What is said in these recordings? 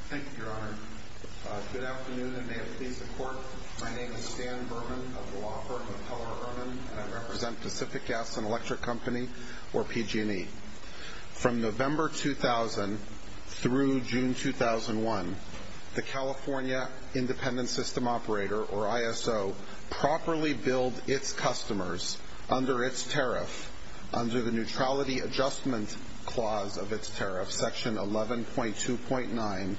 Thank you, Your Honor. Good afternoon, and may it please the Court, my name is Stan Berman of the law firm of Keller Irwin, and I represent Pacific Gas and Electric Company, or PG&E. From November 2000 through June 2001, the California Independent System Operator, or ISO, properly billed its customers under its tariff, under the Neutrality Adjustment Clause of its tariff, Section 11.2.9,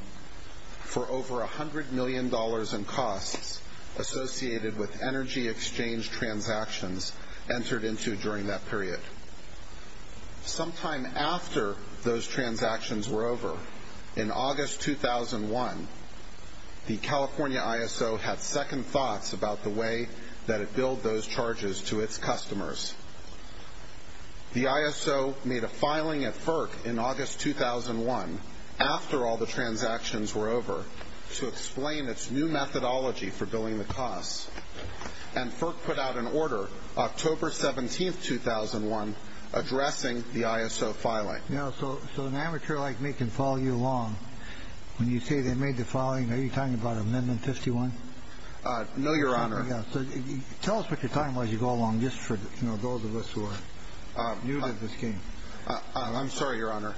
for over $100 million in costs associated with energy exchange transactions entered into during that period. Sometime after those transactions were over, in August 2001, the California ISO had second thoughts about the way that it billed those charges to its customers. The ISO made a filing at FERC in August 2001, after all the transactions were over, to explain its new methodology for billing the costs. And FERC put out an order, October 17, 2001, addressing the ISO filing. Now, so an amateur like me can follow you along when you say they made the filing, are you talking about Amendment 51? No, Your Honor. So tell us what you're talking about as you go along, just for those of us who are new to this game. I'm sorry, Your Honor.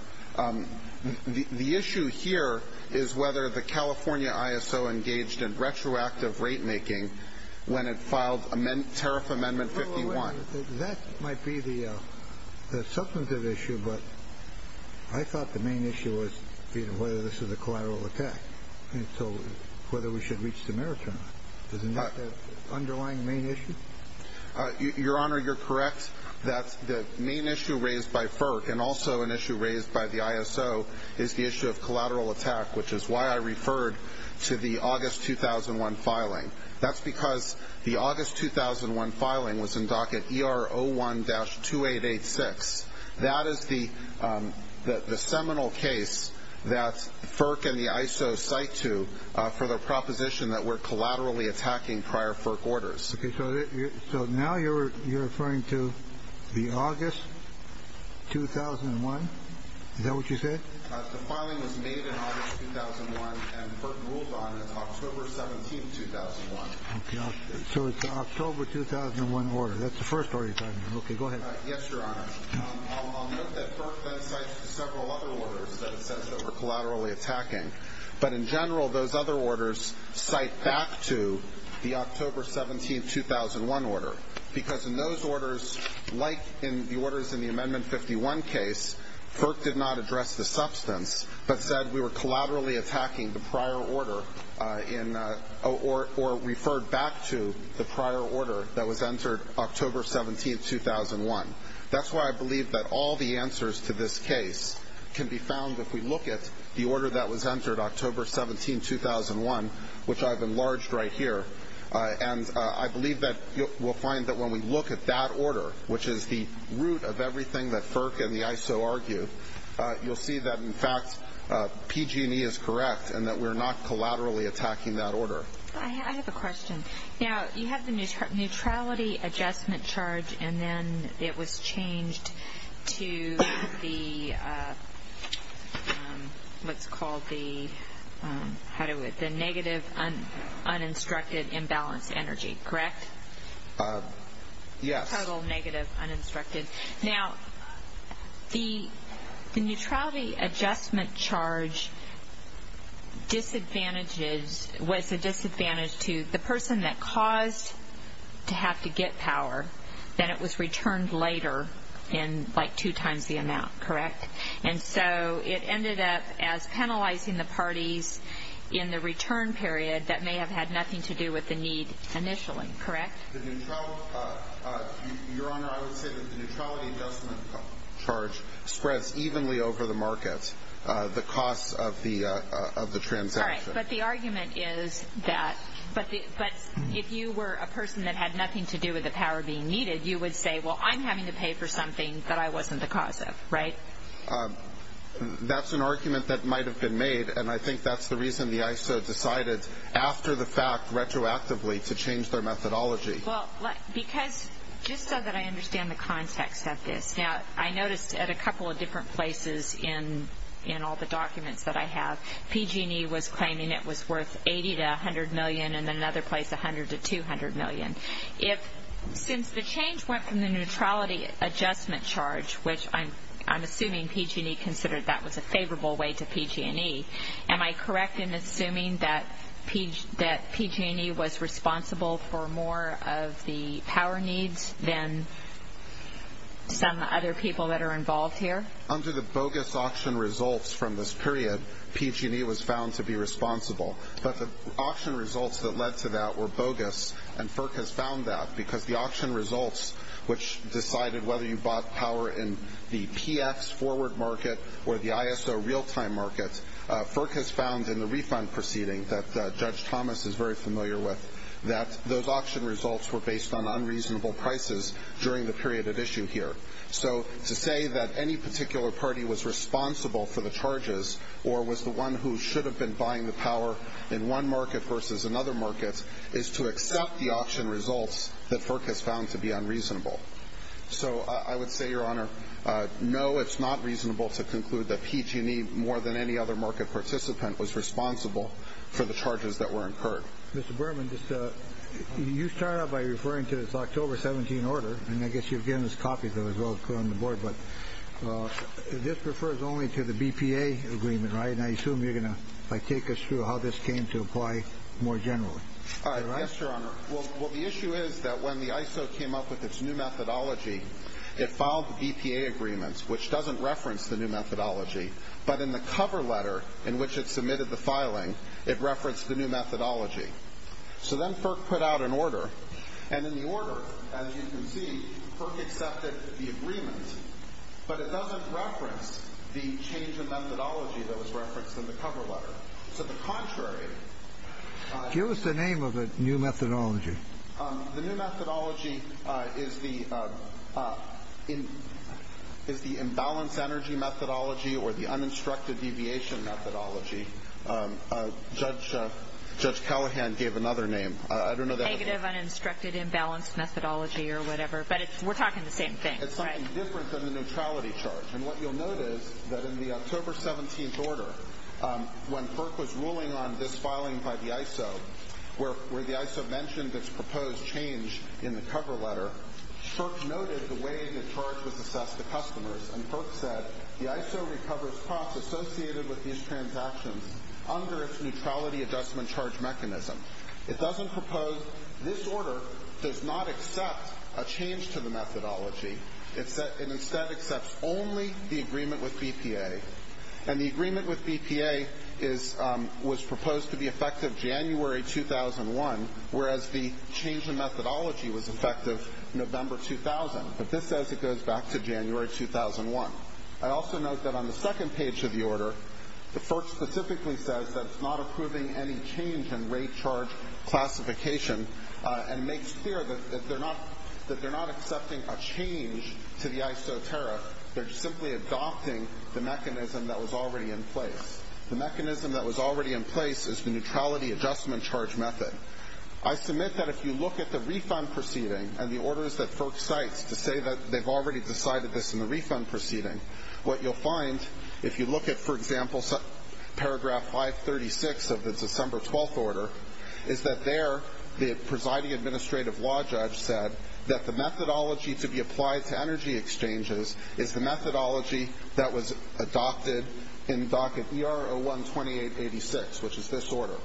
The issue here is whether the California ISO engaged in retroactive rate-making when it filed Tariff Amendment 51. That might be the substantive issue, but I thought the main issue was whether this was a collateral attack, whether we should reach the merits or not. Isn't that the underlying main issue? Your Honor, you're correct that the main issue raised by FERC, and also an issue raised by the ISO, is the issue of collateral attack, which is why I referred to the August 2001 filing. That's because the August 2001 filing was in docket ER01-2886. That is the seminal case that FERC and the ISO cite to for the proposition that we're collaterally attacking prior FERC orders. Okay, so now you're referring to the August 2001? Is that what you said? The filing was made in August 2001, and FERC ruled on it as October 17, 2001. Okay, so it's an October 2001 order. That's the first order you're talking about. Okay, go ahead. Yes, Your Honor. I'll note that FERC then cites several other orders that it says that we're collaterally attacking, but in general, those other orders cite back to the October 17, 2001 order, because in those orders, like in the orders in the Amendment 51 case, FERC did not address the substance, but said we were collaterally attacking the prior order or referred back to the prior order that was entered October 17, 2001. That's why I believe that all the answers to this case can be found if we look at the order that was entered October 17, 2001, which I've enlarged right here, and I believe that we'll find that when we look at that order, which is the root of everything that FERC and the ISO argue, you'll see that in fact, PG&E is correct, and that we're not collaterally attacking that order. I have a question. Now, you have the neutrality adjustment charge, and then it was changed to the, what's it called, the negative uninstructed imbalance energy, correct? Yes. Total negative uninstructed. Now, the neutrality adjustment charge was a disadvantage to the person that caused to have to get power, then it was returned later in like two times the amount, correct? And so it ended up as penalizing the parties in the return period that may have had nothing to do with the need initially, correct? Your Honor, I would say that the neutrality adjustment charge spreads evenly over the market, the cost of the transaction. All right, but the argument is that, but if you were a person that had nothing to do with the power being needed, you would say, well, I'm having to pay for something that I wasn't the cause of, right? That's an argument that might have been made, and I think that's the reason the ISO decided after the fact retroactively to change their methodology. Well, because, just so that I understand the context of this, now, I noticed at a couple of different places in all the documents that I have, PG&E was claiming it was worth $80 to $100 million, and another place $100 to $200 million. If, since the change went from the neutrality adjustment charge, which I'm assuming PG&E considered that was a favorable way to PG&E, am I correct in assuming that PG&E was responsible for more of the power needs than some other people that are involved here? Under the bogus auction results from this period, PG&E was found to be responsible, but the auction results that led to that were bogus, and FERC has found that, because the auction results, which decided whether you bought power in the PX forward market or the ISO real-time market, FERC has found in the refund proceeding that Judge Thomas is very familiar with, that those auction results were based on unreasonable prices during the period at issue here. So, to say that any particular party was responsible for the charges, or was the one who should have been buying the power in one market versus another market, is to accept the auction results that FERC has found to be unreasonable. So, I would say, Your Honor, no, it's not reasonable to conclude that PG&E, more than any other market participant, was responsible for the charges that were incurred. Mr. Berman, you start out by referring to this October 17 order, and I guess you've given us copies of it, as well, to put on the board, but this refers only to the BPA agreement, right? And I assume you're going to take us through how this came to apply more generally. Yes, Your Honor. Well, the issue is that when the ISO came up with its new methodology, it filed the BPA agreements, which doesn't reference the new methodology, but in the cover letter in which it submitted the filing, it referenced the new methodology. So then FERC put out an order, and in the order, as you can see, FERC accepted the agreement, but it doesn't reference the change in methodology that was referenced in the cover letter. So, the contrary... Give us the name of the new methodology. The new methodology is the imbalance energy methodology, or the uninstructed deviation methodology. Judge Callahan gave another name. I don't know the other name. Negative uninstructed imbalance methodology, or whatever. But we're talking the same thing. It's something different than the neutrality charge. And what you'll notice, that in the when FERC was ruling on this filing by the ISO, where the ISO mentioned its proposed change in the cover letter, FERC noted the way the charge was assessed to customers, and FERC said, the ISO recovers costs associated with these transactions under its neutrality adjustment charge mechanism. It doesn't propose... This order does not accept a change to the methodology. It instead accepts only the agreement with BPA. And the agreement with BPA was proposed to be effective January 2001, whereas the change in methodology was effective November 2000. But this says it goes back to January 2001. I also note that on the second page of the order, the FERC specifically says that it's not approving any change in rate charge classification, and makes clear that they're not accepting a change to the ISO tariff. They're simply adopting the mechanism that was already in place. The mechanism that was already in place is the neutrality adjustment charge method. I submit that if you look at the refund proceeding, and the orders that FERC cites to say that they've already decided this in the refund proceeding, what you'll find, if you look at, for example, paragraph 536 of the December 12th order, is that there, the presiding administrative law judge said that the methodology to be applied to energy exchanges is the methodology that was adopted in docket ER01-2886, which is this order.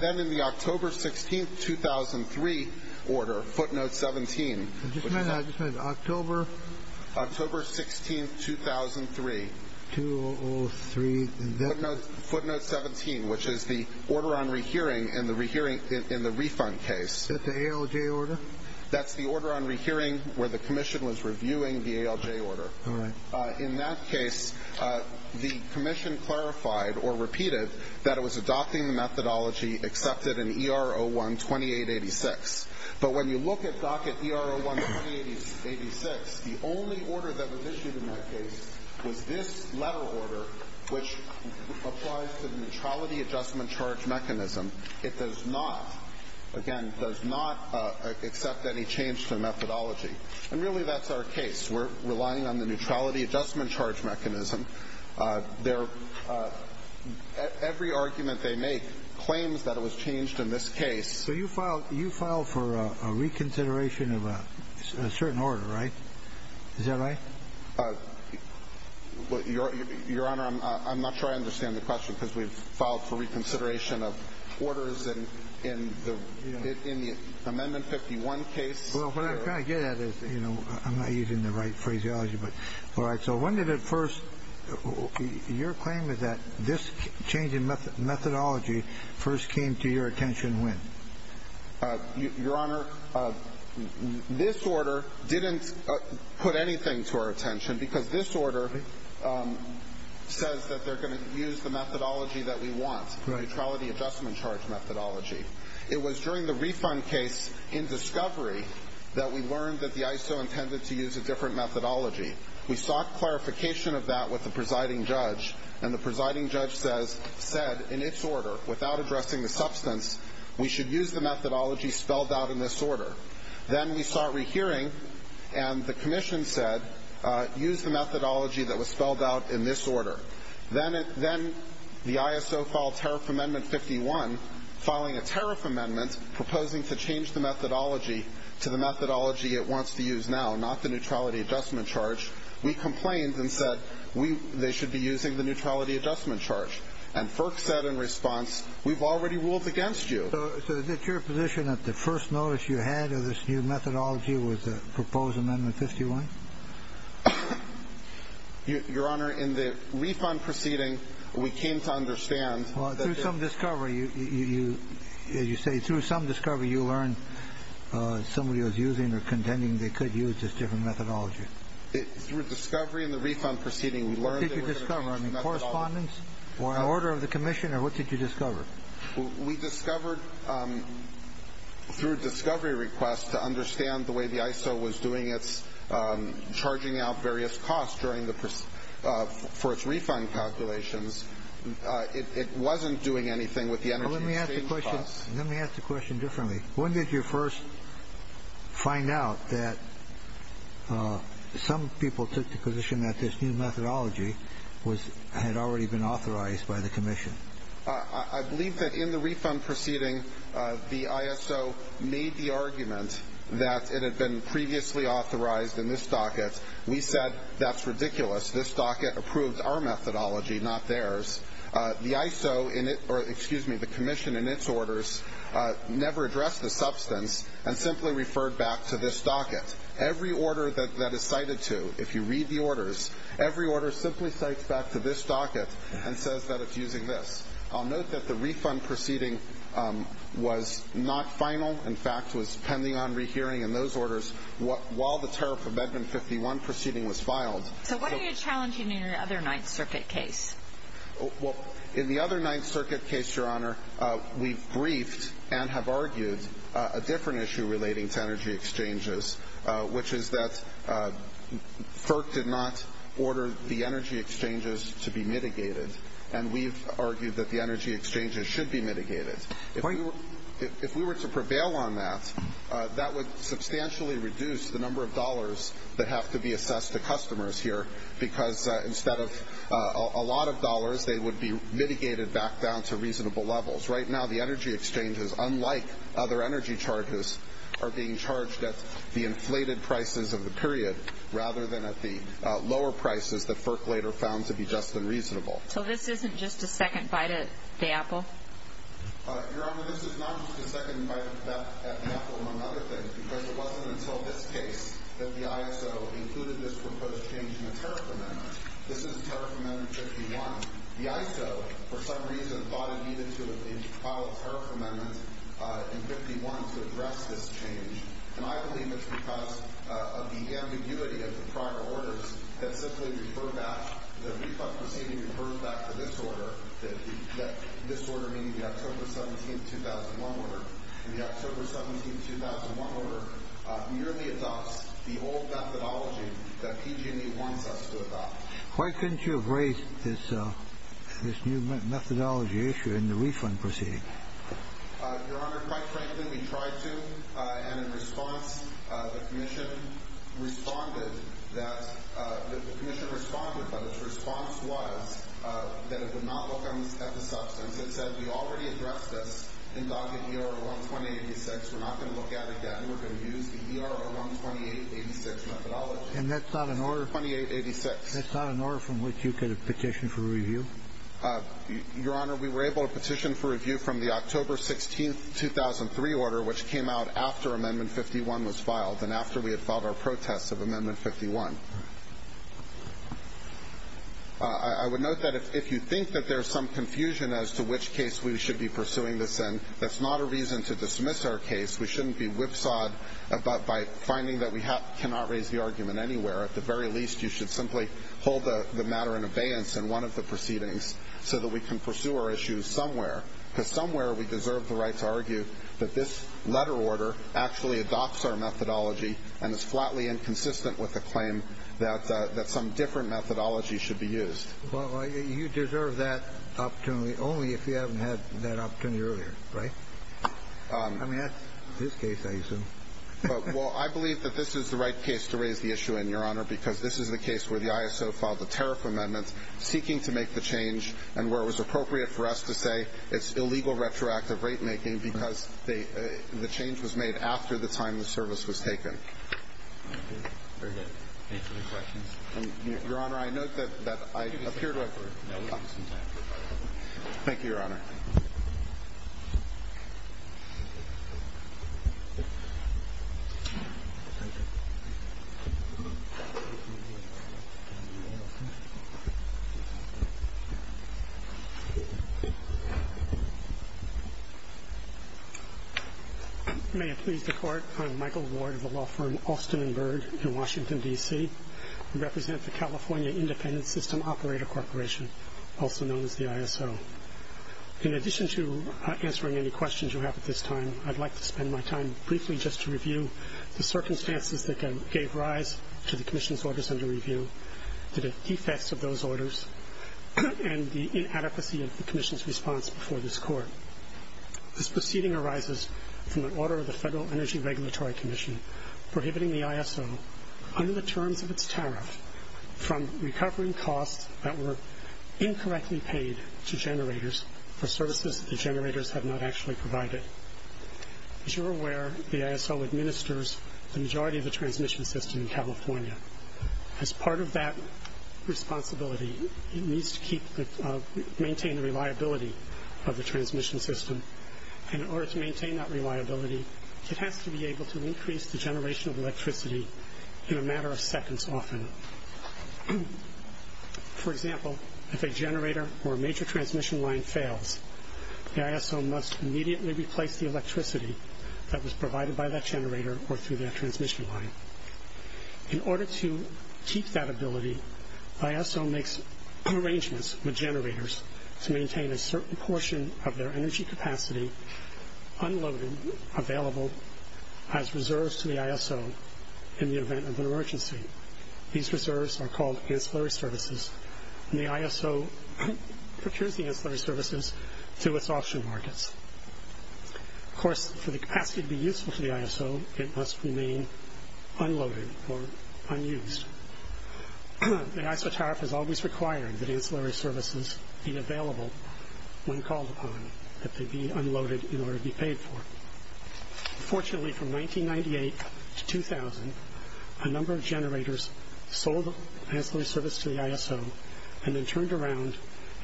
Then in the October 16th, 2003 order, footnote 17... I just meant October... October 16th, 2003. 2003... Footnote 17, which is the order on rehearing in the refund case. Is that the ALJ order? That's the order on rehearing where the commission was reviewing the ALJ order. All right. In that case, the commission clarified, or repeated, that it was adopting the methodology accepted in ER01-2886. But when you look at docket ER01-2886, the only order that was issued in that case was this letter order, which applies to the neutrality adjustment charge mechanism. It does not, again, does not accept any change to the methodology. And really, that's our case. We're relying on the neutrality adjustment charge mechanism. Every argument they make claims that it was changed in this case. So you filed for a reconsideration of a certain order, right? Is that right? Your Honor, I'm not sure I understand the question, because we've filed for reconsideration of orders in the Amendment 51 case. Well, what I kind of get at is, you know, I'm not using the right phraseology, but all right, so when did it first... Your claim is that this change in methodology first came to your attention when? Your Honor, this order didn't put anything to our attention, because this order says that they're going to use the methodology that we want, the neutrality adjustment charge methodology. It was during the refund case in discovery that we learned that the ISO intended to use a different methodology. We sought clarification of that with the presiding judge, and the presiding judge said, in its order, without addressing the substance, we should use the methodology spelled out in this order. Then we sought rehearing, and the commission said, use the methodology that was spelled out in this order. Then the ISO filed Tariff Amendment 51, filing a tariff amendment, proposing to change the methodology to the methodology it wants to use now, not the neutrality adjustment charge. We complained and said they should be using the neutrality adjustment charge. And FERC said in response, we've already ruled against you. So is it your position that the first notice you had of this new methodology was the proposed Amendment 51? Your Honor, in the refund proceeding, we came to understand that Well, through some discovery, as you say, through some discovery, you learned somebody was using or contending they could use this different methodology. Through discovery in the refund proceeding, we learned that What did you discover? I mean, correspondence? Or an order of the commission, or what did you discover? We discovered, through discovery requests, to understand the way the ISO was doing its charging out various costs for its refund calculations. It wasn't doing anything with the energy exchange costs. Let me ask the question differently. When did you first find out that some people took the position that this new methodology had already been authorized by the commission? I believe that in the refund proceeding, the ISO made the argument that it had been previously authorized in this docket. We said, that's ridiculous. This docket approved our methodology, not theirs. The ISO, or excuse me, the commission in its orders, never addressed the substance and simply referred back to this docket. Every order that is cited to, if you read the orders, every order simply cites back to this docket and says that it's using this. I'll note that the refund proceeding was not final, in fact, was pending on rehearing in those orders while the tariff of Edmund 51 proceeding was filed. So what are you challenging in your other Ninth Circuit case? In the other Ninth Circuit case, Your Honor, we've briefed and have argued a different issue relating to energy exchanges, which is that FERC did not order the energy exchanges to be mitigated, and we've argued that the energy exchanges should be mitigated. If we were to prevail on that, that would substantially reduce the number of dollars that have to be assessed to customers here, because instead of a lot of dollars, they would be mitigated back down to reasonable levels. Right now, the energy exchanges, unlike other energy charges, are being charged at the inflated prices of the period, rather than at the lower prices that FERC later found to be just and reasonable. So this isn't just a second bite at the apple? Your Honor, this is not just a second bite at the apple among other things, because it wasn't until this case that the ISO included this proposed change in the tariff amendment. This is tariff amendment 51. The ISO, for some reason, thought it needed to file a tariff amendment in 51 to address this change, and I believe it's because of the ambiguity of the prior orders that simply refer back, the refund proceeding refers back to this order, this order meaning the October 17, 2001 order, and the October 17, 2001 order merely adopts the old methodology that PG&E wants us to adopt. Why couldn't you have raised this new methodology issue in the refund proceeding? Your Honor, quite frankly, we tried to, and in response, the Commission responded that, the Commission responded, but its response was that it would not look at the substance. It said, we already addressed this in DOCA ER-012886, we're not going to look at it again, we're going to use the ER-012886 methodology. And that's not an order from which you could have petitioned for review? Your Honor, we were able to petition for review from the October 16, 2003 order, which came out after amendment 51 was filed, and after we had filed our protests of amendment 51. I would note that if you think that there's some confusion as to which case we should be pursuing this in, that's not a reason to dismiss our case. We shouldn't be whipsawed by finding that we cannot raise the argument anywhere. At the very least, you should simply hold the matter in abeyance in one of the proceedings so that we can pursue our issues somewhere, because somewhere we deserve the right to argue that this letter order actually adopts our methodology and is flatly inconsistent with the claim that some different methodology should be used. Well, you deserve that opportunity only if you haven't had that opportunity earlier, right? I mean, that's this case, I assume. Well, I believe that this is the right case to raise the issue in, Your Honor, because this is the case where the ISO filed the tariff amendments seeking to make the change, and where it was appropriate for us to say it's illegal retroactive rate-making because the change was made after the time the service was taken. Very good. Any further questions? Your Honor, I note that I appear to have... Thank you, Your Honor. Thank you. May it please the Court, I'm Michael Ward of the law firm Austin & Byrd in Washington, D.C. I represent the California Independent System Operator Corporation, also known as the ISO. In addition to answering any questions you have at this time, I'd like to spend my time briefly just to review the circumstances that gave rise to the Commission's orders under review, the defects of those orders, and the inadequacy of the Commission's response before this Court. This proceeding arises from an order of the Federal Energy Regulatory Commission prohibiting the ISO, under the terms of its tariff, from recovering costs that were incorrectly paid to generators for services that the generators have not actually provided. As you're aware, the ISO administers the majority of the transmission system in California. As part of that responsibility, it needs to maintain the reliability of the transmission system, and in order to maintain that reliability, it has to be able to increase the generation of electricity in a matter of seconds, often. For example, if a generator or a major transmission line fails, the ISO must immediately replace the electricity that was provided by that generator or through that transmission line. In order to keep that ability, the ISO makes arrangements with generators to maintain a certain portion of their energy capacity unloaded, available, as reserves to the ISO in the event of an emergency. These reserves are called ancillary services, and the ISO procures the ancillary services through its auction markets. Of course, for the capacity to be useful to the ISO, it must remain unloaded or unused. The ISO tariff has always required that ancillary services be available when called upon, that they be unloaded in order to be paid for. Fortunately, from 1998 to 2000, a number of generators sold the ancillary service to the ISO and then turned around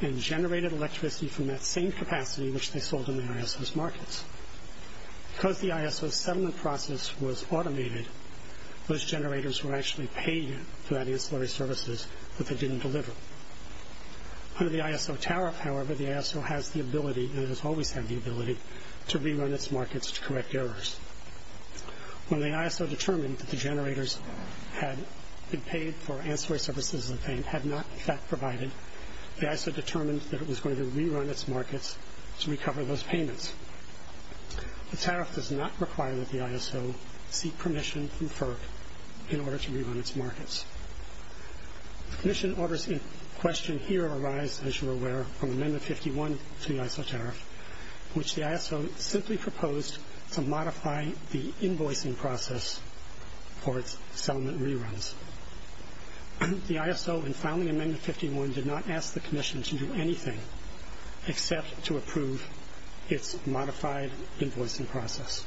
and generated electricity from that same capacity which they sold in the ISO's markets. Because the ISO's settlement process was automated, those generators were actually paid for that ancillary services that they didn't deliver. Under the ISO tariff, however, the ISO has the ability, and has always had the ability, to rerun its markets to correct errors. When the ISO determined that the generators had been paid for ancillary services that they had not in fact provided, the ISO determined that it was going to rerun its markets to recover those payments. The tariff does not require that the ISO seek permission from FERC in order to rerun its markets. The Commission orders in question here arise, as you are aware, from Amendment 51 to the ISO tariff, which the ISO simply proposed to modify the invoicing process for its settlement reruns. The ISO, in filing Amendment 51, did not ask the Commission to do anything except to approve its modified invoicing process.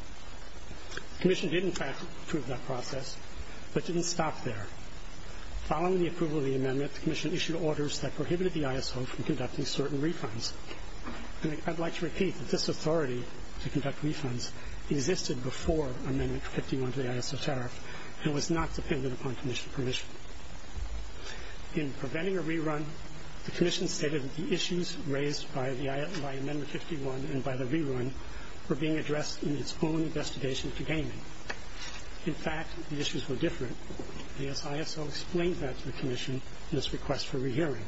The Commission did in fact approve that process, but didn't stop there. Following the approval of the Amendment, the Commission issued orders that prohibited the ISO from conducting certain refunds. I'd like to repeat that this authority to conduct refunds existed before Amendment 51 to the ISO tariff and was not dependent upon Commission permission. In preventing a rerun, the Commission stated that the issues raised by Amendment 51 and by the rerun were being addressed in its own investigation to gaming. The ISO explained that to the Commission in its request for rehearing.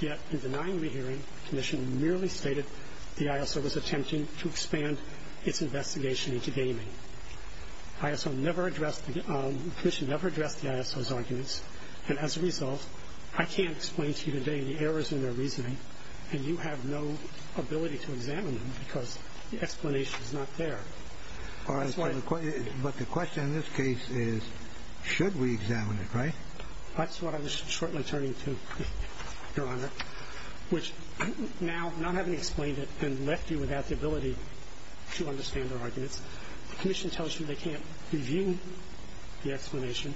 Yet in denying rehearing, the Commission merely stated the ISO was attempting to expand its investigation into gaming. The Commission never addressed the ISO's arguments, and as a result, I can't explain to you today the errors in their reasoning, and you have no ability to examine them because the explanation is not there. But the question in this case is, should we examine it, right? That's what I was shortly turning to, Your Honor, which now, not having explained it, and left you without the ability to understand the arguments, the Commission tells you they can't review the explanation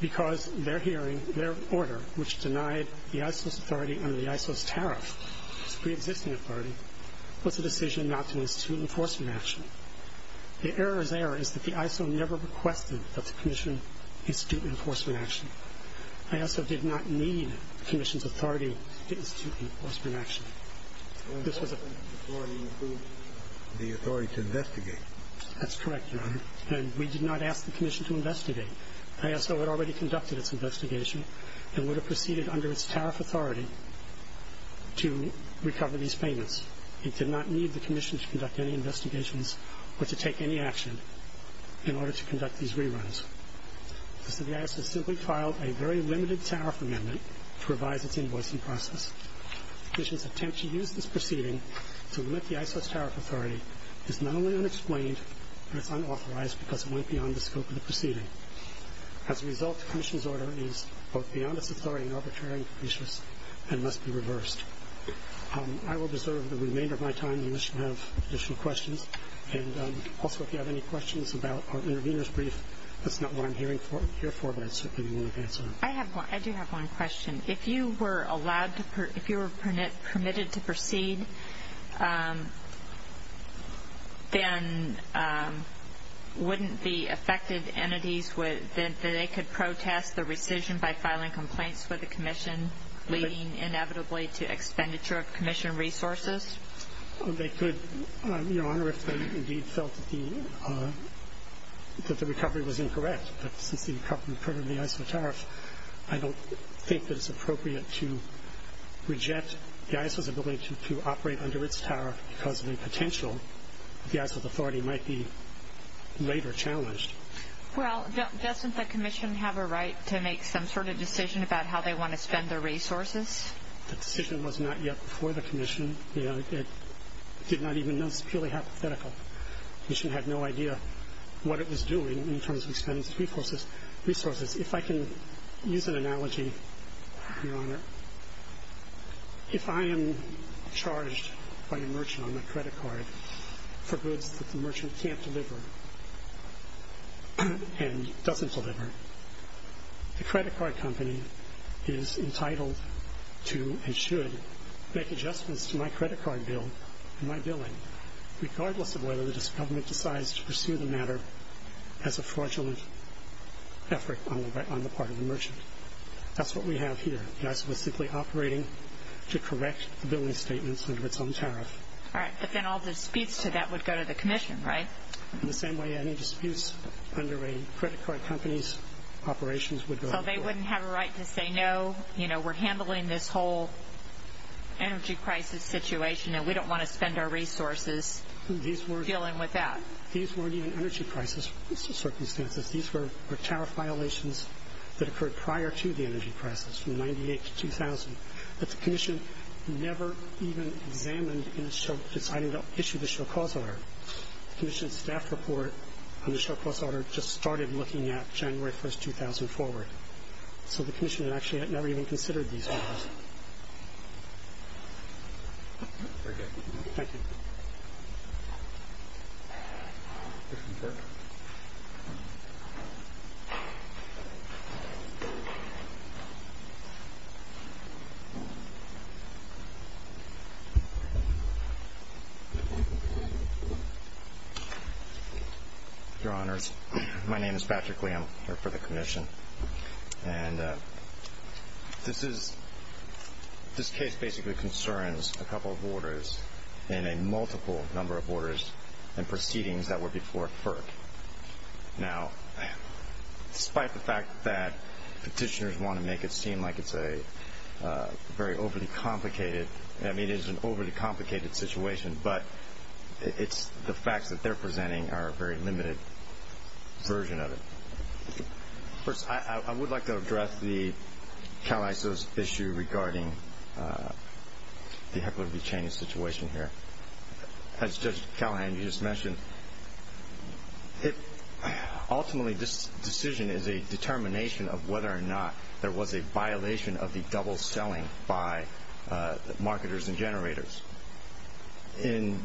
because their hearing, their order, which denied the ISO's authority under the ISO's tariff, its pre-existing authority, was a decision not to institute enforcement action. The error there is that the ISO never requested that the Commission institute enforcement action. The ISO did not need the Commission's authority to institute enforcement action. The authority to investigate. That's correct, Your Honor, and we did not ask the Commission to investigate. The ISO had already conducted its investigation and would have proceeded under its tariff authority to recover these payments. It did not need the Commission to conduct any investigations or to take any action in order to conduct these reruns. The ISO simply filed a very limited tariff amendment to revise its invoicing process. The Commission's attempt to use this proceeding to limit the ISO's tariff authority is not only unexplained, but it's unauthorized because it went beyond the scope of the proceeding. As a result, the Commission's order is both beyond its authority and arbitrary and must be reversed. I will reserve the remainder of my time and the Commission will have additional questions. Also, if you have any questions about our intervener's brief, that's not what I'm here for, but I certainly will answer them. I do have one question. If you were permitted to proceed, then wouldn't the affected entities that they could protest the rescission by filing complaints for the Commission leading inevitably to expenditure of Commission resources? They could, Your Honor, if they indeed felt that the recovery was incorrect. But since the recovery occurred under the ISO tariff, I don't think that it's appropriate to reject the ISO's ability to operate under its tariff because of the potential that the ISO authority might be later challenged. Well, doesn't the Commission have a right to make some sort of decision about how they want to spend their resources? The decision was not yet before the Commission. It did not even know. It's purely hypothetical. The Commission had no idea what it was doing in terms of expending its resources. If I can use an analogy, Your Honor. If I am charged by a merchant on my credit card for goods that the merchant can't deliver, and doesn't deliver, the credit card company is entitled to and should make adjustments to my credit card bill and my billing regardless of whether the government decides to pursue the matter as a fraudulent effort on the part of the merchant. That's what we have here. The ISO is simply operating to correct the billing statements under its own tariff. But then all the disputes to that would go to the Commission, right? In the same way any disputes under a credit card company's operations would go to the Commission. So they wouldn't have a right to say, no, we're handling this whole energy crisis situation and we don't want to spend our resources dealing with that? These weren't even energy crisis circumstances. These were tariff violations that occurred prior to the energy crisis from 1998 to 2000 that the Commission never even examined in deciding to issue the Show Cause Order. The Commission's staff report on the Show Cause Order just started looking at January 1st, 2000 forward. So the Commission actually never even considered these orders. Thank you. Your Honors, my name is Patrick Lee. I'm here for the Commission. And this case basically concerns a couple of orders and a multiple number of orders and proceedings that were before FERC. Now, despite the fact that the Commission's staff report and the petitioners want to make it seem like it's a very overly complicated situation, but the facts that they're presenting are a very limited version of it. First, I would like to address the CalISO's issue regarding the heckler v. Cheney situation here. As Judge Callahan, you just mentioned, ultimately this decision is a determination of whether or not there was a violation of the double selling by marketers and generators. In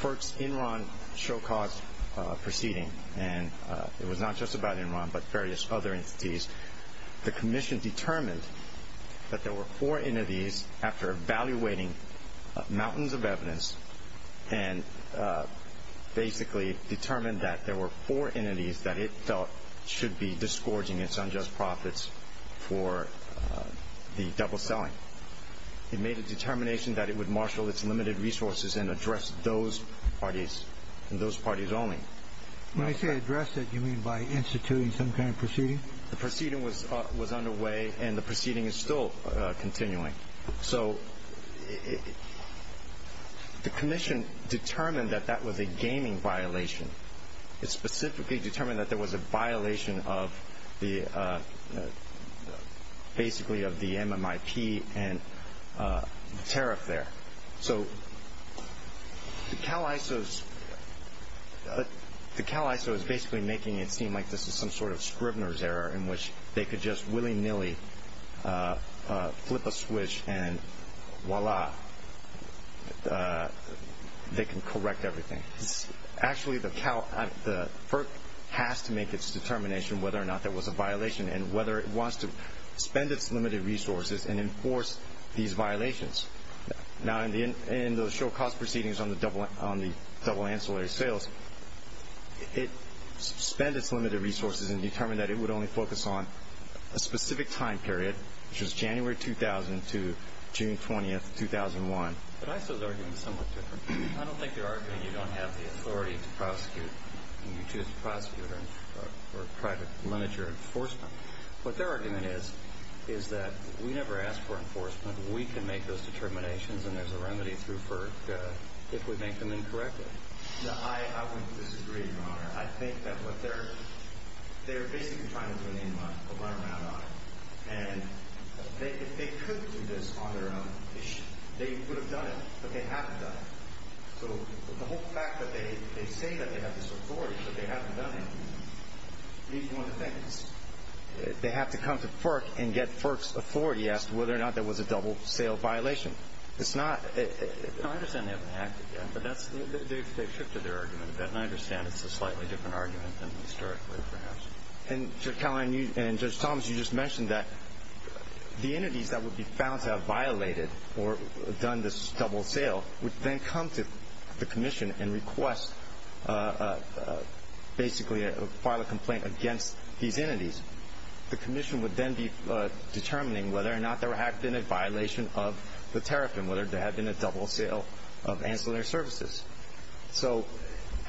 FERC's Enron Show Cause proceeding, and it was not just about Enron, but various other entities, the Commission determined that there were four entities after evaluating mountains of evidence and basically determined that there were four entities that it felt should be disgorging its unjust profits for the double selling. It made a determination that it would marshal its limited resources and address those parties only. When I say address it, you mean by instituting some kind of proceeding? The proceeding was underway and the proceeding is still continuing. The Commission determined that that was a gaming violation. It specifically determined that there was a violation of the MMIP and tariff there. The CalISO is basically making it seem like this is some sort of Scribner's error in which they could just willy-nilly flip a switch and voila, they can correct everything. Actually, the FERC has to make its determination whether or not there was a violation and whether it wants to spend its limited resources and enforce these violations. In the Show Cause proceedings on the double ancillary sales, it spent its limited resources and determined that it would only focus on a specific time period, which was January 2000 to June 20, 2001. I don't think you're arguing you don't have the authority to prosecute when you choose to prosecute or try to limit your enforcement. What their argument is, is that we never ask for enforcement. We can make those determinations and there's a remedy through FERC if we make them incorrect. No, I wouldn't disagree, Your Honor. They're basically trying to turn the environment on. If they could do this on their own, they would have done it, but they haven't done it. The whole fact that they say they have this authority, but they haven't done it means one thing. They have to come to FERC and get FERC's authority as to whether or not there was a double sale violation. I understand they haven't acted yet, but they've shifted their argument a bit and I understand it's a slightly different argument than historically, perhaps. Judge Collins, you just mentioned that the entities that would be found to have violated or done this double sale would then come to the Commission and file a complaint against these entities. The Commission would then be determining whether or not there had been a violation of the tariff and whether there had been a double sale of ancillary services.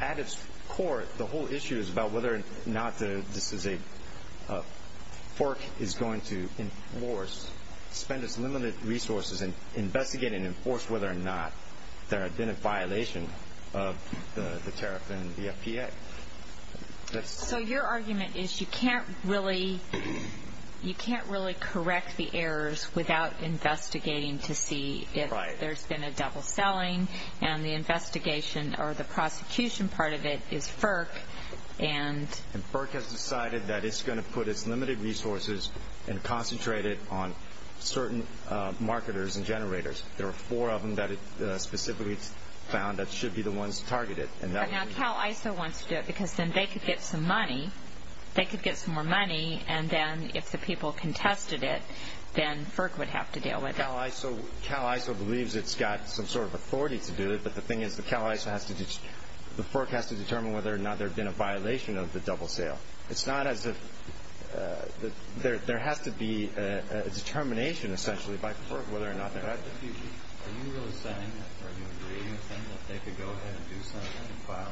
At its core, the whole issue is about whether or not FERC is going to enforce, spend its limited resources and investigate and enforce whether or not there had been a violation of the tariff and the FPA. So your argument is you can't really correct the errors without investigating to see if there's been a double selling and the investigation or the prosecution part of it is FERC and FERC has decided that it's going to put its limited resources and concentrate it on certain marketers and generators. There are four of them that it specifically found that should be the ones targeted. But now CalISO wants to do it because then they could get some money and then if the people contested it then FERC would have to deal with it. CalISO believes it's got some sort of authority to do it but the thing is the FERC has to determine whether or not there had been a violation of the double sale. essentially by FERC whether or not there had been. Are you really saying or do you agree with them that they could go ahead and do something and file?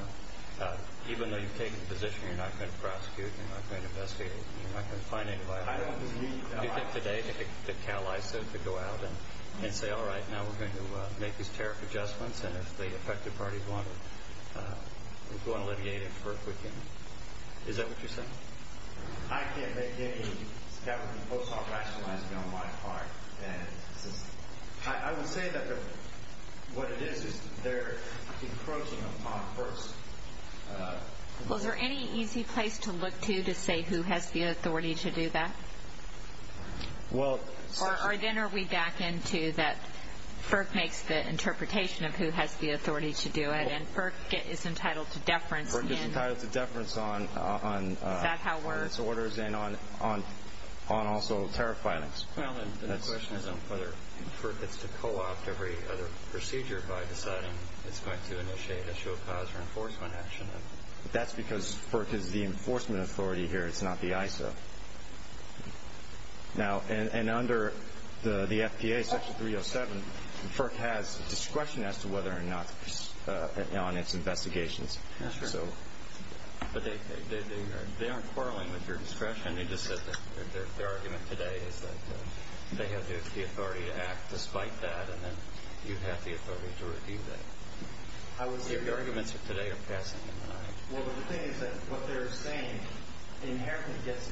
Even though you've taken the position you're not going to prosecute, you're not going to investigate, you're not going to find any violations. Do you think the day that CalISO could go out and say alright now we're going to make these tariff adjustments and if the affected parties want to alleviate it for a quick payment. Is that what you're saying? I can't make any scattering of votes or rationalizing on my part. I would say that what it is is they're encroaching upon FERC's... Is there any easy place to look to to say who has the authority to do that? Or then are we back into that FERC makes the interpretation of who has the authority to do it and FERC is entitled to deference Is that how it works? On compliance orders and on also tariff filings. The question is on whether FERC gets to co-opt every other procedure by deciding it's going to initiate a show cause or enforcement action. That's because FERC is the enforcement authority here it's not the ISO. And under the FDA section 307 FERC has discretion as to whether or not on its investigations. But they aren't quarreling with your discretion. They just said their argument today is that they have the authority to act despite that and then you have the authority to review that. The arguments today are passing. Well the thing is that what they're saying inherently gets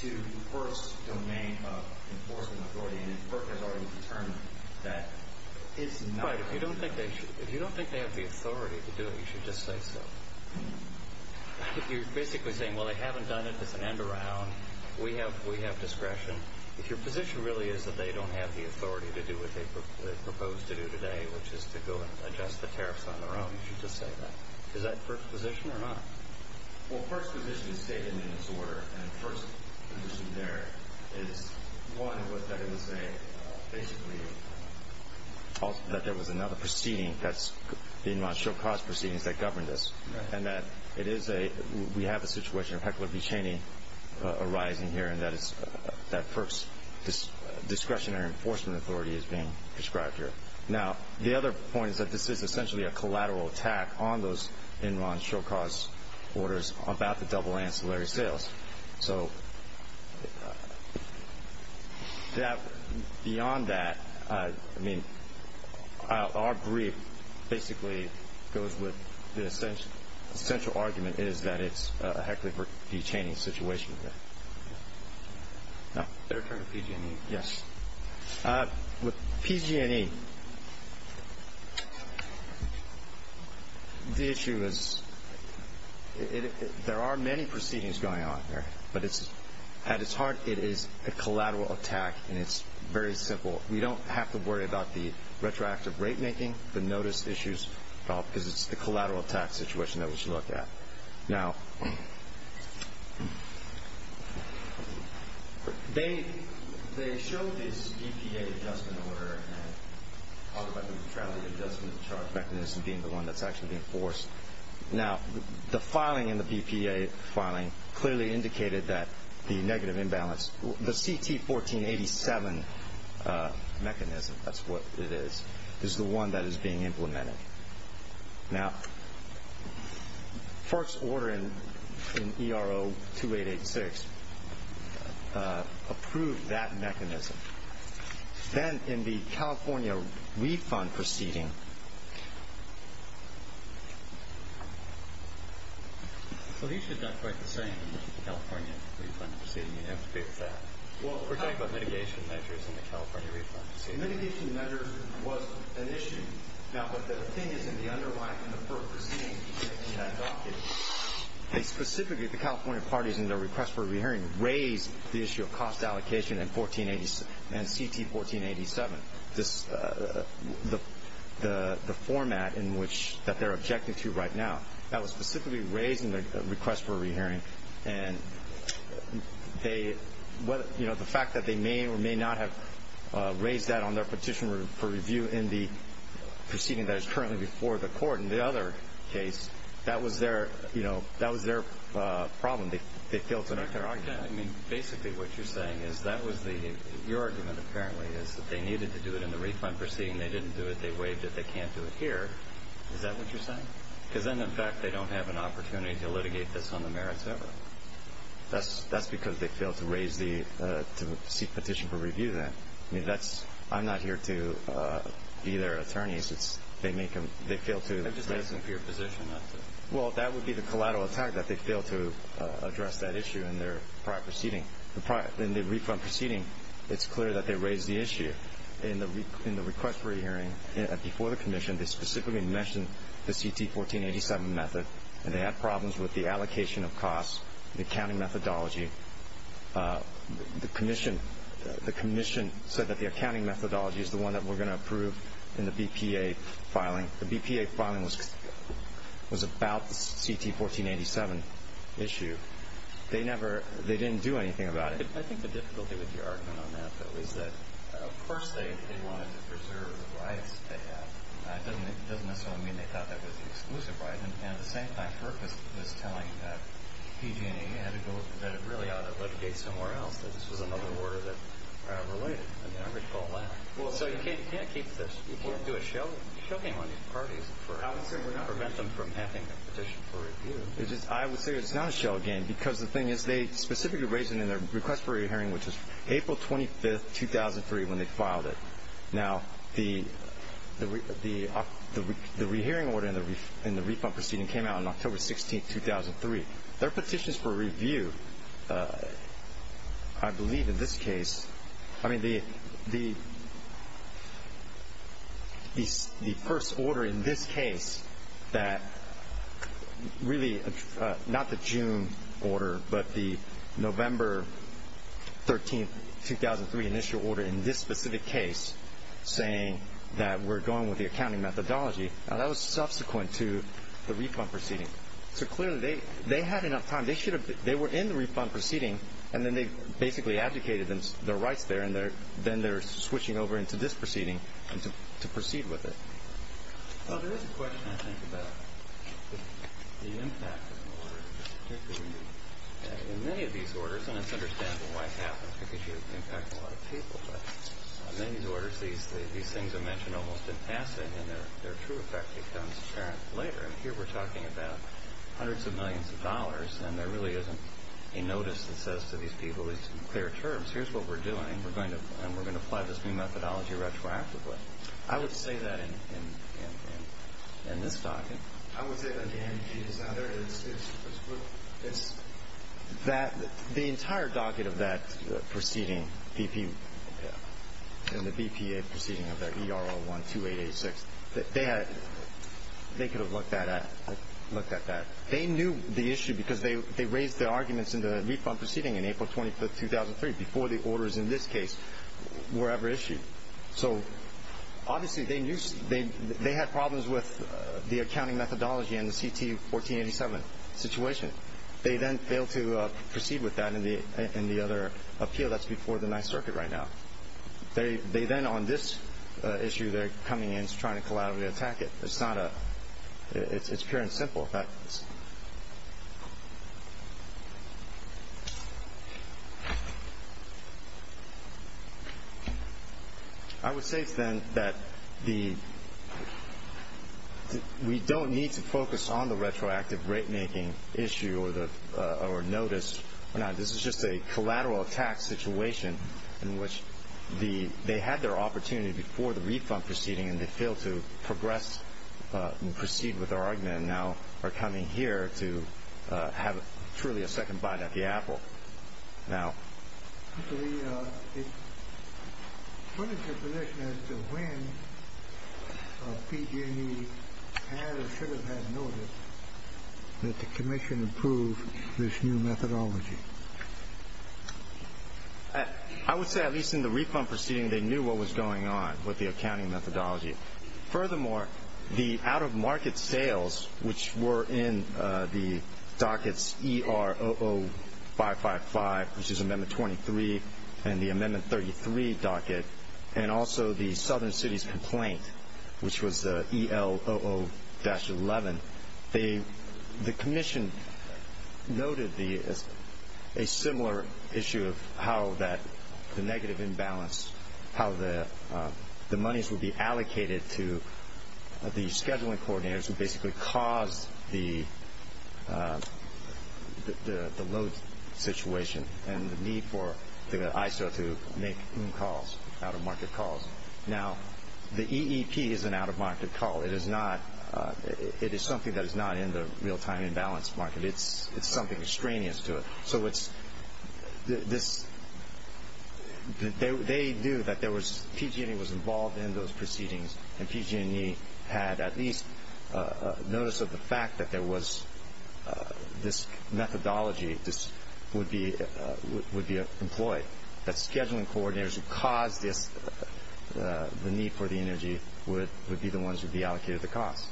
to FERC's domain of enforcement authority and FERC has already determined that it's not... If you don't think they have the authority to do it you should just say so. You're basically saying well they haven't done it, it's an end around we have discretion. If your position really is that they don't have the authority to do what they propose to do today which is to go and adjust the tariffs on their own you should just say that. Is that FERC's position or not? Well FERC's position is stated in its order and the first position there is one what they're going to say basically that there was another proceeding the Enron Show Cause proceedings that governed this and that we have a situation of heckler be chaney arising here and that FERC's discretionary enforcement authority is being prescribed here. Now the other point is that this is essentially a collateral attack on those Enron Show Cause orders about the double ancillary sales. So beyond that I mean our brief basically goes with the essential argument is that it's a heckler be chaney situation. With PG&E the issue is there are many proceedings going on here but at its heart it is a collateral attack and it's very simple. We don't have to worry about the retroactive rate making the notice issues because it's the collateral attack situation that we should look at. They show this BPA adjustment order and talk about the traffic adjustment charge mechanism being the one that's actually being forced Now the filing in the BPA filing clearly indicated that the negative imbalance the CT 1487 mechanism that's what it is, is the one that is being implemented. Now FERC's order in ERO 2886 approved that mechanism. Then in the California refund proceeding So he should have done quite the same in the California refund proceeding. You have to agree with that? Well for example mitigation measures in the California refund proceeding Mitigation measures was an issue now but the thing is in the underlying in the FERC proceeding in that docket, specifically the California parties in their request for a re-hearing raised the issue of cost allocation and CT 1487 the format in which, that they're objecting to right now that was specifically raised in the request for a re-hearing and the fact that they may or may not have raised that on their petition for review in the proceeding that is currently before the court in the other case that was their problem. They failed to note their argument. Basically what you're saying is that was your argument apparently that they needed to do it in the refund proceeding. They didn't do it. They waived it. They can't do it here. Is that what you're saying? Because then in fact they don't have an opportunity to litigate this on the merits ever. That's because they failed to raise the to seek petition for review then. I'm not here to be their attorney they fail to Well that would be the collateral attack that they failed to address that issue in their prior proceeding In the refund proceeding it's clear that they raised the issue in the request for a re-hearing before the commission they specifically mentioned the CT 1487 method and they had problems with the allocation of costs the accounting methodology the commission said that the accounting methodology is the one that we're going to approve in the BPA filing. The BPA filing was about the CT 1487 issue they didn't do anything about it I think the difficulty with your argument on that though is that of course they wanted to preserve the rights they had it doesn't necessarily mean they thought that was the exclusive right and at the same time Kirk was telling that PG&E had to go, that it really ought to litigate somewhere else that this was another order that related So you can't keep this, you can't do a show you can't do a show game on these parties I would say we're not preventing them from having a petition for review I would say it's not a show game because the thing is they specifically raised it in their request for a re-hearing which was April 25, 2003 when they filed it now the re-hearing order in the refund proceeding came out on October 16, 2003 their petitions for review I believe in this case I mean the the first order in this case that really not the June order but the November 13, 2003 initial order in this specific case saying that we're going with the accounting methodology that was subsequent to the refund proceeding so clearly they had enough time, they were in the refund proceeding and then they basically abdicated their rights there then they're switching over into this proceeding to proceed with it Well there is a question I think about the impact of an order in many of these orders, and it's understandable why it happens because you impact a lot of people but in many of these orders these things are mentioned almost in passing and their true effect becomes apparent later and here we're talking about hundreds of millions of dollars and there really isn't a notice that says to these people in clear terms, here's what we're doing and we're going to apply this new methodology retroactively I would say that in this docket I would say that the energy is out there the entire docket of that proceeding and the BPA proceeding of that ERR 12886 they could have looked at that they knew the issue because they raised their arguments in the refund proceeding in April 25, 2003 before the orders in this case were ever issued so obviously they knew they had problems with the accounting methodology and the CT 1487 situation they then failed to proceed with that in the other appeal that's before the 9th circuit right now they then on this issue they're coming in trying to collaterally attack it it's pure and simple I would say then that we don't need to focus on the retroactive rate making issue or notice this is just a collateral attack situation in which they had their opportunity before the refund proceeding and they failed to progress and proceed with their argument and now are coming here to have truly a second bite at the apple What is your position as to when PG&E had or should have had notice that the commission approved this new methodology? I would say at least in the refund proceeding they knew what was going on with the accounting methodology furthermore, the out of market sales which were in the dockets ER00555 which is amendment 23 and the amendment 33 docket and also the southern cities complaint which was EL00-11 the commission noted a similar issue of how the negative imbalance how the monies would be allocated to the scheduling coordinators who basically caused the load situation and the need for the ISO to make calls out of market calls Now, the EEP is an out of market call it is something that is not in the real time imbalance market it's something extraneous to it so it's they knew that PG&E was involved in those proceedings and PG&E had at least notice of the fact that this methodology would be employed that scheduling coordinators would be the ones who allocated the cost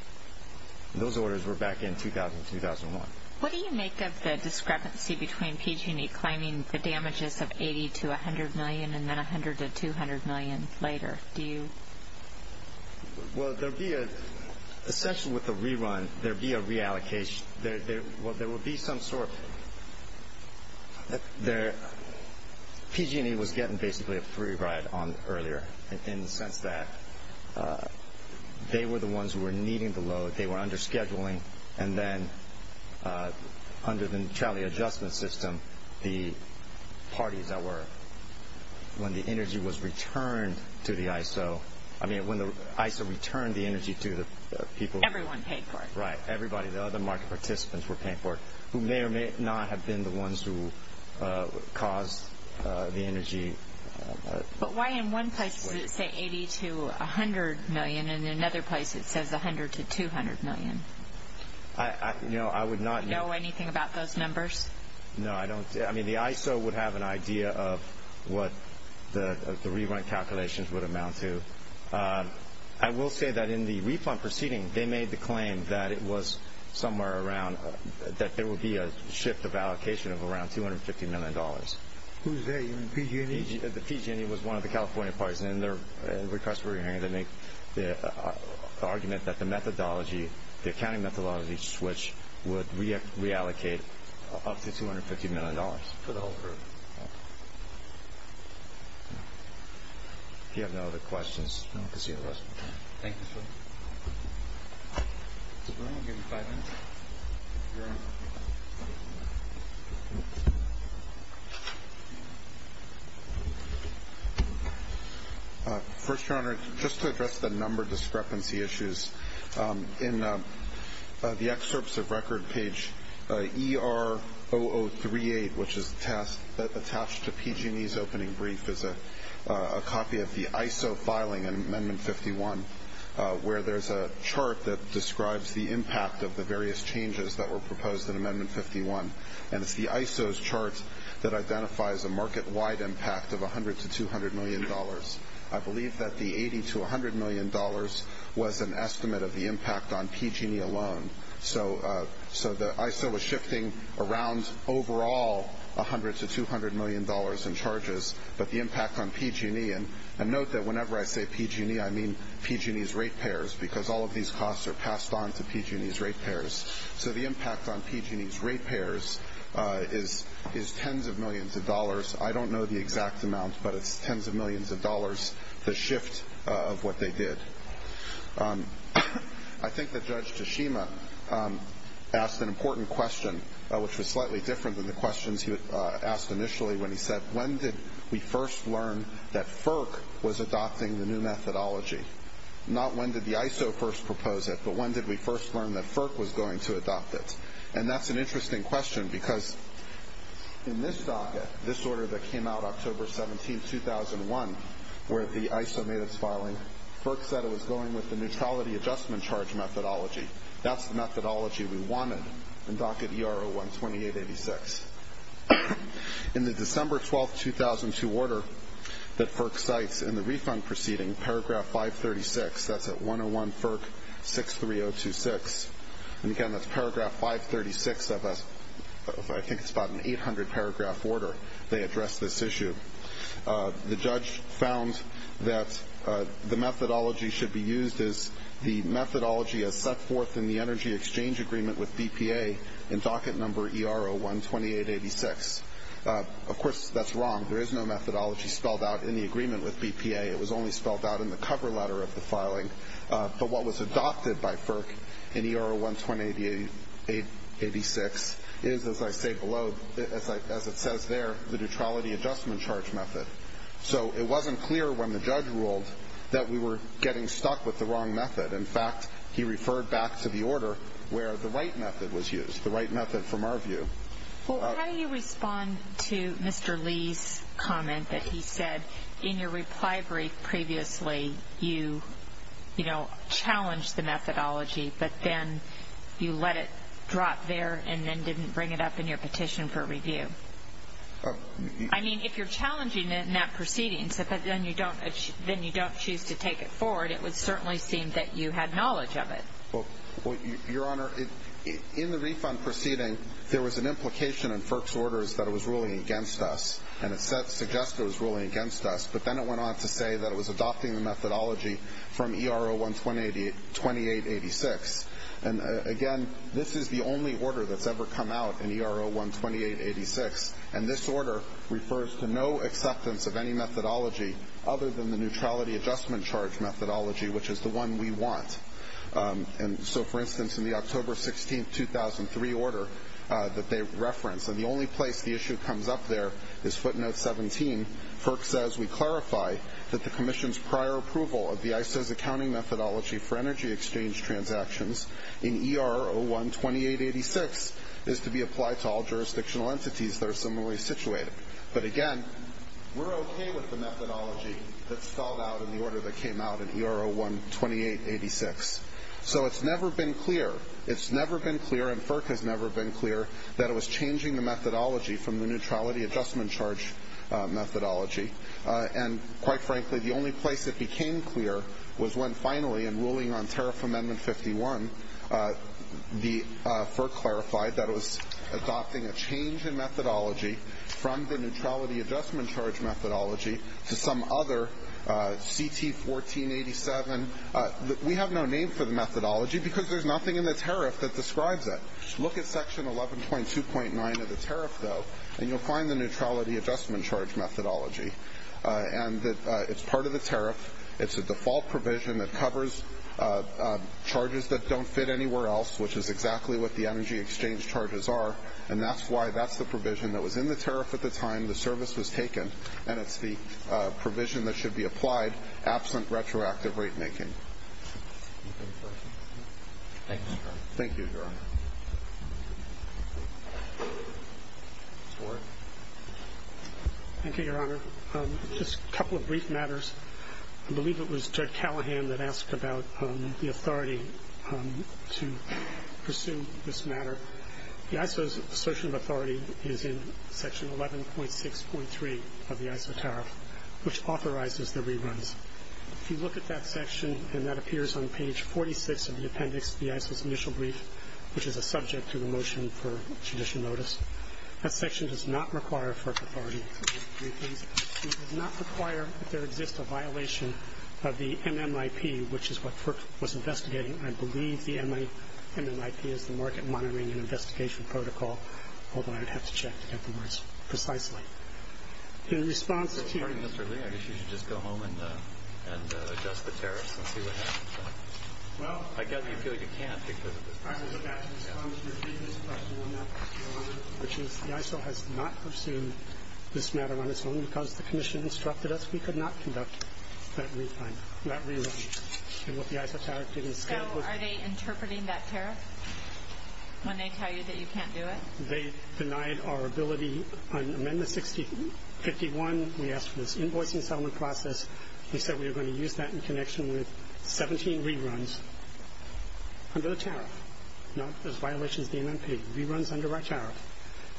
those orders were back in 2000-2001 What do you make of the discrepancy between PG&E claiming the damages of 80-100 million and then 100-200 million later? Well, there would be essentially with the rerun there would be some sort PG&E was getting basically a free ride earlier in the sense that they were the ones who were needing the load they were under scheduling and then under the Charlie Adjustment System the parties that were when the energy was returned to the ISO I mean when the ISO returned the energy everyone paid for it the other market participants were paying for it who may or may not have been the ones who caused the energy But why in one place does it say 80-100 million and in another place it says 100-200 million? Do you know anything about those numbers? No, I don't. The ISO would have an idea of what the rerun calculations would amount to I will say that in the refund proceeding they made the claim that it was somewhere around that there would be a shift of allocation of around $250 million Who's they? PG&E? PG&E was one of the California parties and their request for a re-hearing they made the argument that the accounting methodology switch would reallocate up to $250 million for the whole group Thank you If you have no other questions Thank you I'll give you five minutes First Your Honor, just to address the number discrepancy issues in the excerpts of record page ER0038 which is attached to PG&E's opening brief is a copy of the ISO filing in Amendment 51 where there's a chart that describes the impact of the various changes that were proposed in Amendment 51 and it's the ISO's chart that identifies a market-wide impact of $100-200 million I believe that the $80-100 million was an estimate of the impact on PG&E alone So the ISO was shifting around overall $100-200 million in charges but the impact on PG&E and note that whenever I say PG&E I mean PG&E's rate payers because all of these costs are passed on to PG&E's rate payers So the impact on PG&E's rate payers is tens of millions of dollars I don't know the exact amount but it's tens of millions of dollars the shift of what they did I think that Judge Tashima asked an important question which was slightly different than the questions he asked initially when he said, when did we first learn that FERC was adopting the new methodology not when did the ISO first propose it but when did we first learn that FERC was going to adopt it and that's an interesting question because in this docket, this order that came out October 17, 2001 where the ISO made its filing FERC said it was going with the neutrality adjustment charge methodology that's the methodology we wanted in docket ER-012886 In the December 12, 2002 order that FERC cites in the refund proceeding paragraph 536, that's at 101 FERC 63026 and again that's paragraph 536 I think it's about an 800 paragraph order they addressed this issue the judge found that the methodology should be used as the methodology as set forth in the energy exchange agreement with BPA in docket number ER-012886 of course that's wrong, there is no methodology spelled out in the agreement with BPA, it was only spelled out in the cover letter of the filing but what was adopted by FERC in ER-012886 is as I say below, as it says there the neutrality adjustment charge method so it wasn't clear when the judge ruled that we were getting stuck with the wrong method in fact he referred back to the order where the right method was used the right method from our view How do you respond to Mr. Lee's comment that he said in your reply brief previously you challenged the methodology but then you let it drop there and then didn't bring it up in your petition for review I mean if you're challenging it in that proceeding then you don't choose to take it forward it would certainly seem that you had knowledge of it Your Honor, in the refund proceeding there was an implication in FERC's orders that it was ruling against us and it suggested it was ruling against us but then it went on to say that it was adopting the methodology from ER-012886 and again, this is the only order that's ever come out in ER-012886 and this order refers to no acceptance of any methodology other than the neutrality adjustment charge methodology which is the one we want so for instance in the October 16, 2003 order that they reference, and the only place the issue comes up there is footnote 17, FERC says we clarify that the Commission's prior approval of the ISO's accounting methodology for energy exchange transactions in ER-012886 is to be applied to all jurisdictional entities that are similarly situated but again, we're okay with the methodology that's spelled out in the order that came out in ER-012886 so it's never been clear it's never been clear, and FERC has never been clear that it was changing the methodology from the neutrality adjustment charge methodology and quite frankly, the only place it became clear was when finally in ruling on tariff amendment 51 FERC clarified that it was adopting a change in methodology from the neutrality adjustment charge methodology to some other CT-1487 we have no name for the methodology because there's nothing in the tariff that describes it. Look at section 11.2.9 of the tariff though, and you'll find the neutrality adjustment charge methodology and it's part of the tariff it's a default provision that covers charges that don't fit anywhere else which is exactly what the energy exchange charges are and that's why that's the provision that was in the tariff at the time the service was taken and it's the provision that should be applied absent retroactive rate making thank you thank you, your honor Mr. Warren thank you, your honor just a couple of brief matters I believe it was Judd Callahan that asked about the authority to pursue this matter the ISO's assertion of authority is in section 11.6.3 of the ISO tariff which authorizes the reruns if you look at that section and that appears on page 46 of the appendix the ISO's initial brief which is a subject to the motion for judicial notice that section does not require FERC authority it does not require that there exists a violation of the MMIP which is what FERC was investigating I believe the MMIP is the market monitoring and investigation protocol although I'd have to check afterwards precisely in response to I guess you should just go home and adjust the tariff and see what happens I guess you feel you can't because of the in response to your previous question which is the ISO has not pursued this matter on its own because the commission instructed us we could not conduct that rerun and what the ISO tariff did instead So are they interpreting that tariff when they tell you that you can't do it? They denied our ability on amendment 6051 we asked for this invoicing settlement process we said we were going to use that in connection with 17 reruns under the tariff not as violations of the MMIP reruns under our tariff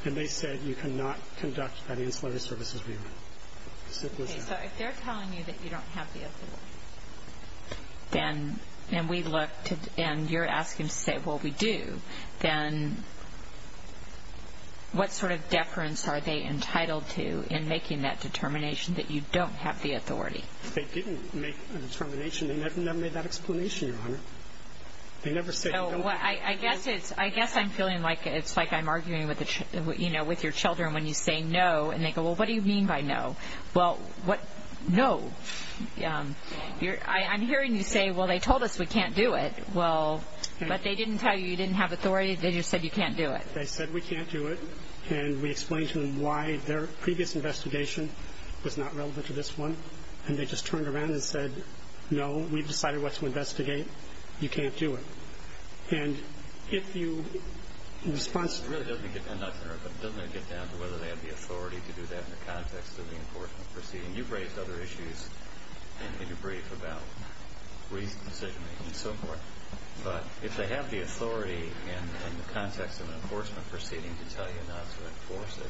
and they said you cannot conduct that ancillary services rerun So if they're telling you that you don't have the authority and you're asking to say well we do then what sort of deference are they entitled to in making that determination that you don't have the authority? They didn't make a determination they never made that explanation I guess I'm feeling like it's like I'm arguing with your children and they go well what do you mean by no? I'm hearing you say well they told us we can't do it but they didn't tell you you didn't have authority they just said you can't do it They said we can't do it and we explained to them why their previous investigation was not relevant to this one and they just turned around and said no we've decided what to investigate you can't do it It really doesn't get down to whether they have the authority to do that in the context of the enforcement proceeding and you've raised other issues in your brief about decision making and so forth but if they have the authority in the context of an enforcement proceeding to tell you not to enforce it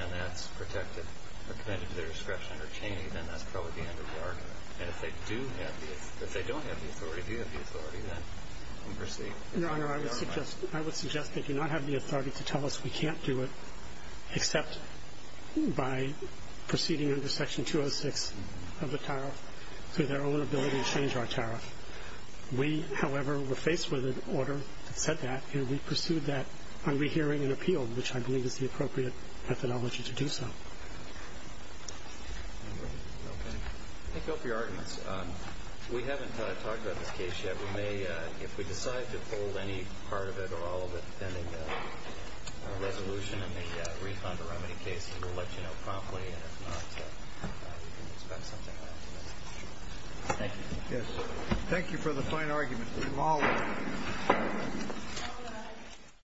and that's protected or committed to their discretion then that's probably the end of the argument and if they don't have the authority then proceed I would suggest they do not have the authority to tell us we can't do it except by proceeding under section 206 of the tariff through their own ability to change our tariff we however were faced with an order that said that and we pursued that on rehearing an appeal which I believe is the appropriate methodology to do so Thank you all for your arguments we haven't talked about this case yet if we decide to hold any part of it or all of it depending on the resolution and the refund or remedy cases we'll let you know promptly and if not we can expect something else Thank you for the fine arguments